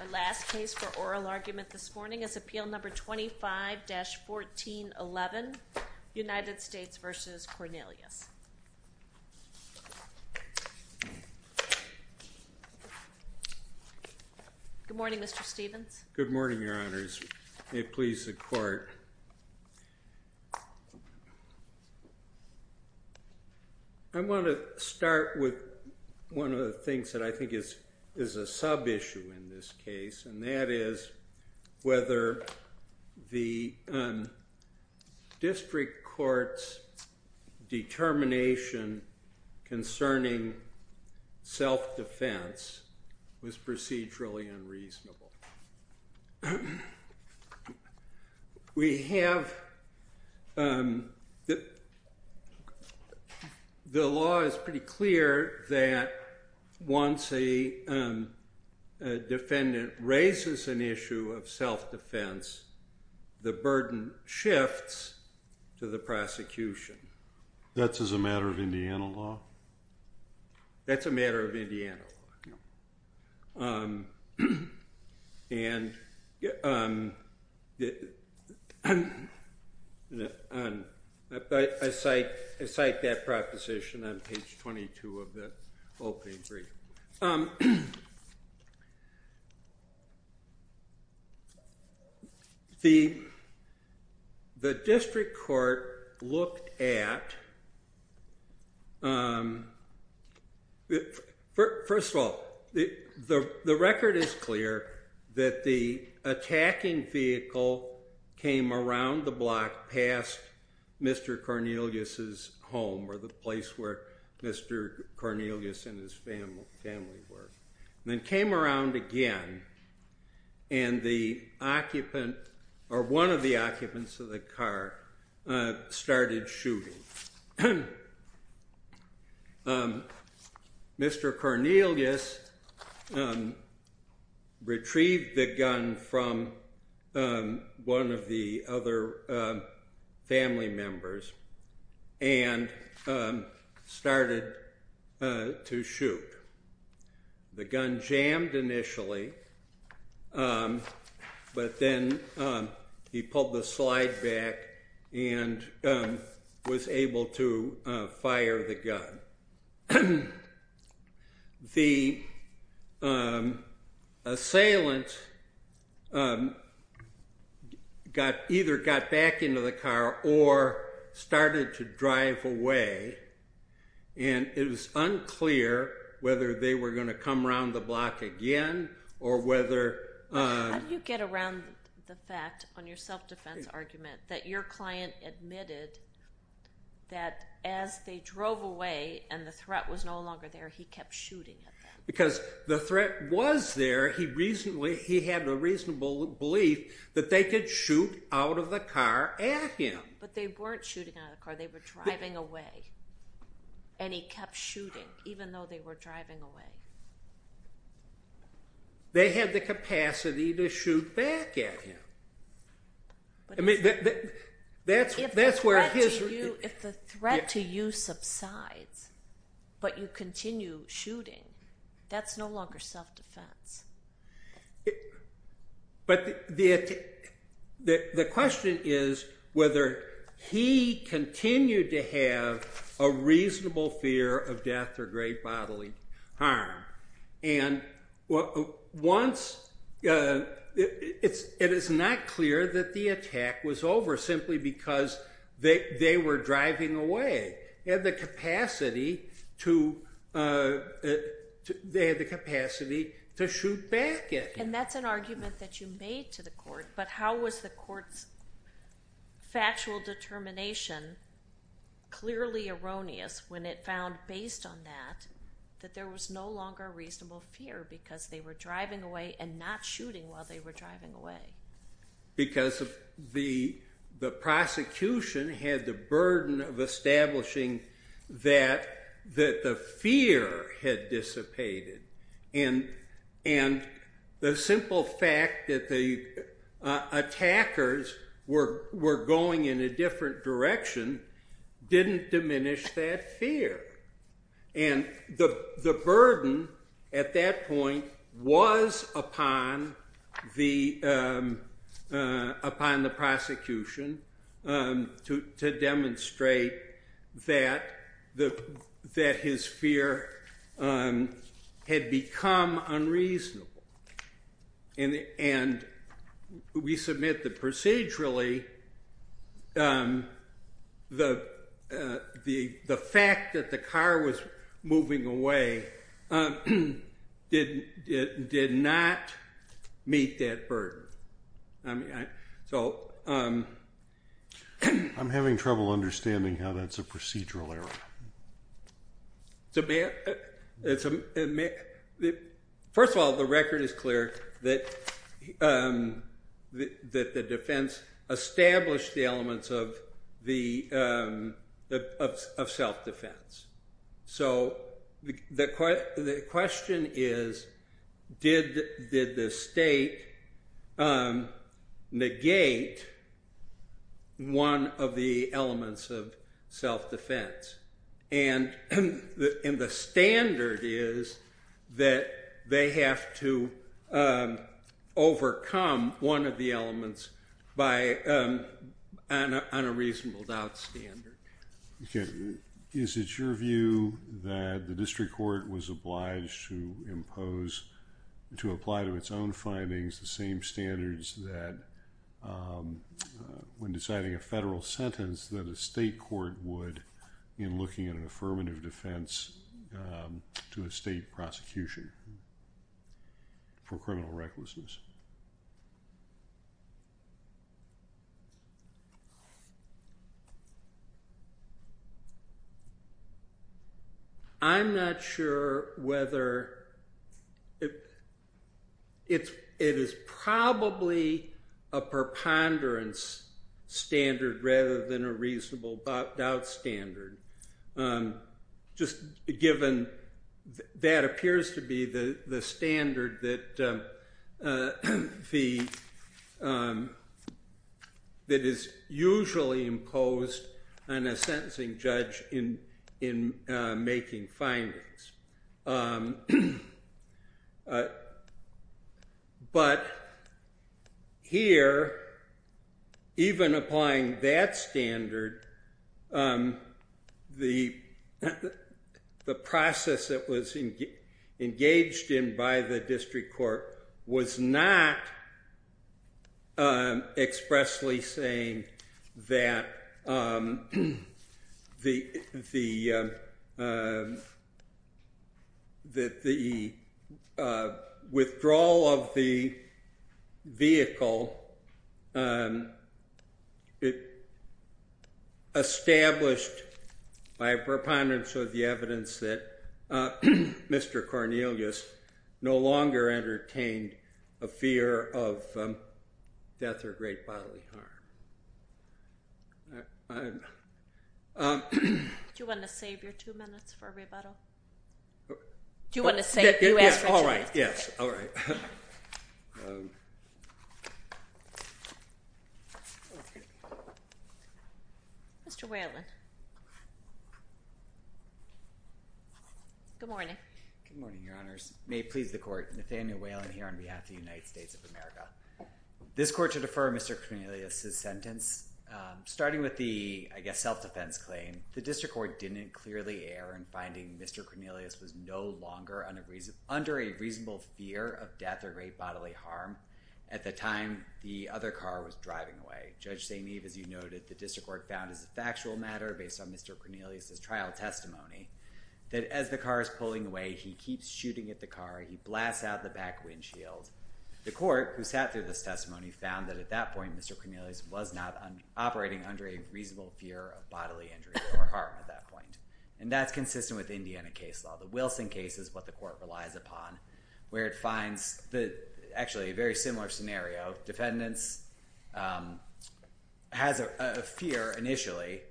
Our last case for oral argument this morning is Appeal No. 25-1411, United States v. Cornelius. Good morning, Mr. Stevens. Good morning, Your Honors. May it please the Court. I want to start with one of the things that I think is a sub-issue in this case, and that is whether the District Court's determination concerning self-defense was procedurally unreasonable. The law is pretty clear that once a defendant raises an issue of self-defense, the burden shifts to the prosecution. That's as a matter of Indiana law? No. That's a matter of Indiana law? No. I cite that proposition on page 22 of the opening brief. The District Court looked at, first of all, the record is clear that the attacking vehicle came around the block past Mr. Cornelius' home, or the place where Mr. Cornelius and his family lived. Then came around again, and one of the occupants of the car started shooting. Mr. Cornelius retrieved the gun from one of the other family members and started to shoot. The gun jammed initially, but then he pulled the slide back and was able to fire the gun. The assailant either got back into the car or started to drive away, and it was unclear whether they were going to come around the block again or whether... How do you get around the fact on your self-defense argument that your client admitted that as they drove away and the threat was no longer there, he kept shooting at them? Because the threat was there. He had a reasonable belief that they could shoot out of the car at him. But they weren't shooting out of the car. They were driving away, and he kept shooting, even though they were driving away. They had the capacity to shoot back at him. If the threat to you subsides, but you continue shooting, that's no longer self-defense. But the question is whether he continued to have a reasonable fear of death or great bodily harm. And it is not clear that the attack was over simply because they were driving away. They had the capacity to shoot back at him. And that's an argument that you made to the court. But how was the court's factual determination clearly erroneous when it found, based on that, that there was no longer a reasonable fear because they were driving away and not shooting while they were driving away? Because the prosecution had the burden of establishing that the fear had dissipated. And the simple fact that the attackers were going in a different direction didn't diminish that fear. And the burden at that point was upon the prosecution to demonstrate that his fear had become unreasonable. And we submit that procedurally, the fact that the car was moving away did not meet that burden. I'm having trouble understanding how that's a procedural error. First of all, the record is clear that the defense established the elements of self-defense. So the question is, did the state negate one of the elements of self-defense? And the standard is that they have to overcome one of the elements on a reasonable doubt standard. Is it your view that the district court was obliged to impose, to apply to its own findings, the same standards that, when deciding a federal sentence, that a state court would in looking at an affirmative defense to a state prosecution for criminal recklessness? I'm not sure whether it is probably a preponderance standard rather than a reasonable doubt standard. Just given that appears to be the standard that is usually imposed on a sentencing judge in making findings. But here, even applying that standard, the process that was engaged in by the district court was not expressly saying that the state court was obliged to impose the same standards. The withdrawal of the vehicle established by a preponderance of the evidence that Mr. Cornelius no longer entertained a fear of death or great bodily harm. Do you want to save your two minutes for rebuttal? Do you want to save it? Yes, all right. Yes, all right. Mr. Whalen. Good morning. Good morning, Your Honors. May it please the court, Nathaniel Whalen here on behalf of the United States of America. This court should defer Mr. Cornelius' sentence. Starting with the, I guess, self-defense claim, the district court didn't clearly err in finding Mr. Cornelius was no longer under a reasonable fear of death or great bodily harm at the time the other car was driving away. Judge St. Eve, as you noted, the district court found as a factual matter based on Mr. Cornelius' trial testimony that as the car is pulling away, he keeps shooting at the car. He blasts out the back windshield. The court, who sat through this testimony, found that at that point Mr. Cornelius was not operating under a reasonable fear of bodily injury or harm at that point. And that's consistent with Indiana case law. The Wilson case is what the court relies upon, where it finds actually a very similar scenario. Defendants has a fear initially.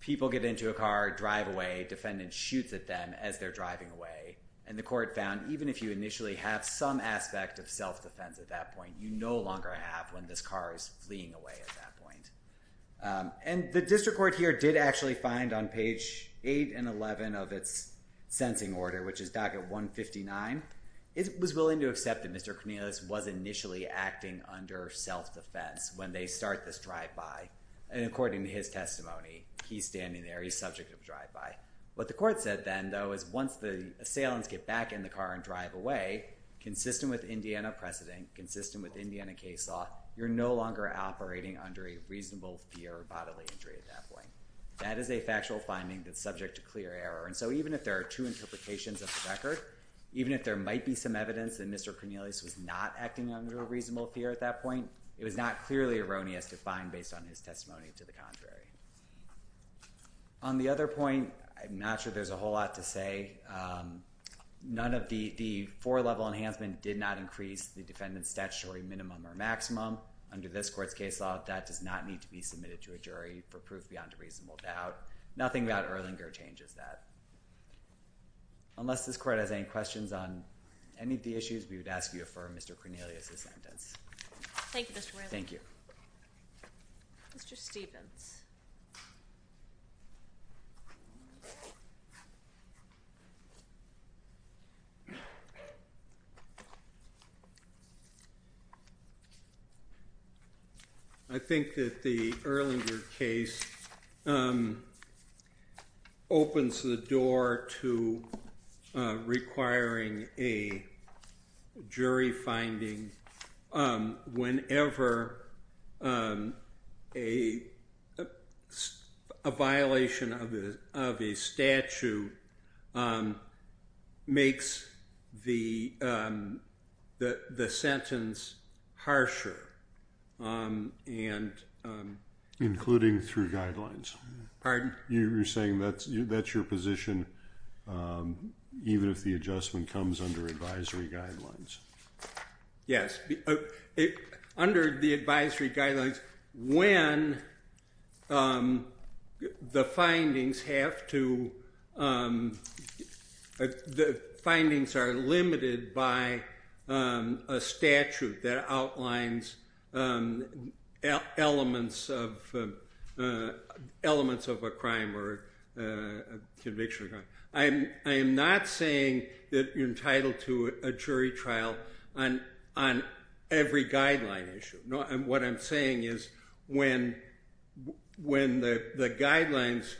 People get into a car, drive away, defendant shoots at them as they're driving away. And the court found even if you initially have some aspect of self-defense at that point, you no longer have when this car is fleeing away at that point. And the district court here did actually find on page 8 and 11 of its sentencing order, which is docket 159, it was willing to accept that Mr. Cornelius was initially acting under self-defense when they start this drive-by. And according to his testimony, he's standing there. He's subject to drive-by. What the court said then, though, is once the assailants get back in the car and drive away, consistent with Indiana precedent, consistent with Indiana case law, you're no longer operating under a reasonable fear of bodily injury at that point. That is a factual finding that's subject to clear error. And so even if there are two interpretations of the record, even if there might be some evidence that Mr. Cornelius was not acting under a reasonable fear at that point, it was not clearly erroneous to find based on his testimony to the contrary. On the other point, I'm not sure there's a whole lot to say. None of the four-level enhancement did not increase the defendant's statutory minimum or maximum. Under this court's case law, that does not need to be submitted to a jury for proof beyond a reasonable doubt. Nothing about Erlinger changes that. Unless this court has any questions on any of the issues, we would ask you to affirm Mr. Cornelius' sentence. Thank you, Mr. Whalen. Thank you. Mr. Stephens. I think that the Erlinger case opens the door to requiring a jury finding whenever a violation of the statute is found. A violation of a statute makes the sentence harsher. Including through guidelines. Pardon? You're saying that's your position even if the adjustment comes under advisory guidelines. Yes. Under the advisory guidelines, when the findings are limited by a statute that outlines elements of a crime or conviction. I am not saying that you're entitled to a jury trial on every guideline issue. What I'm saying is when the guidelines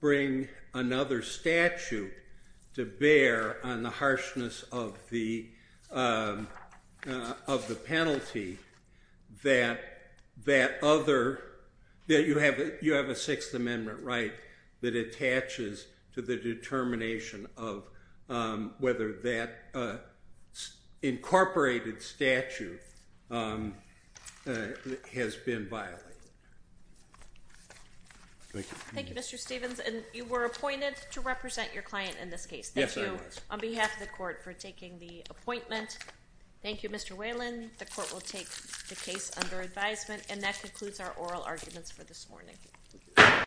bring another statute to bear on the harshness of the penalty, that you have a Sixth Amendment right that attaches to the determination of whether that incorporated statute has been violated. Thank you, Mr. Stephens. And you were appointed to represent your client in this case. Yes, I was. Thank you on behalf of the court for taking the appointment. Thank you, Mr. Whalen. The court will take the case under advisement. And that concludes our oral arguments for this morning.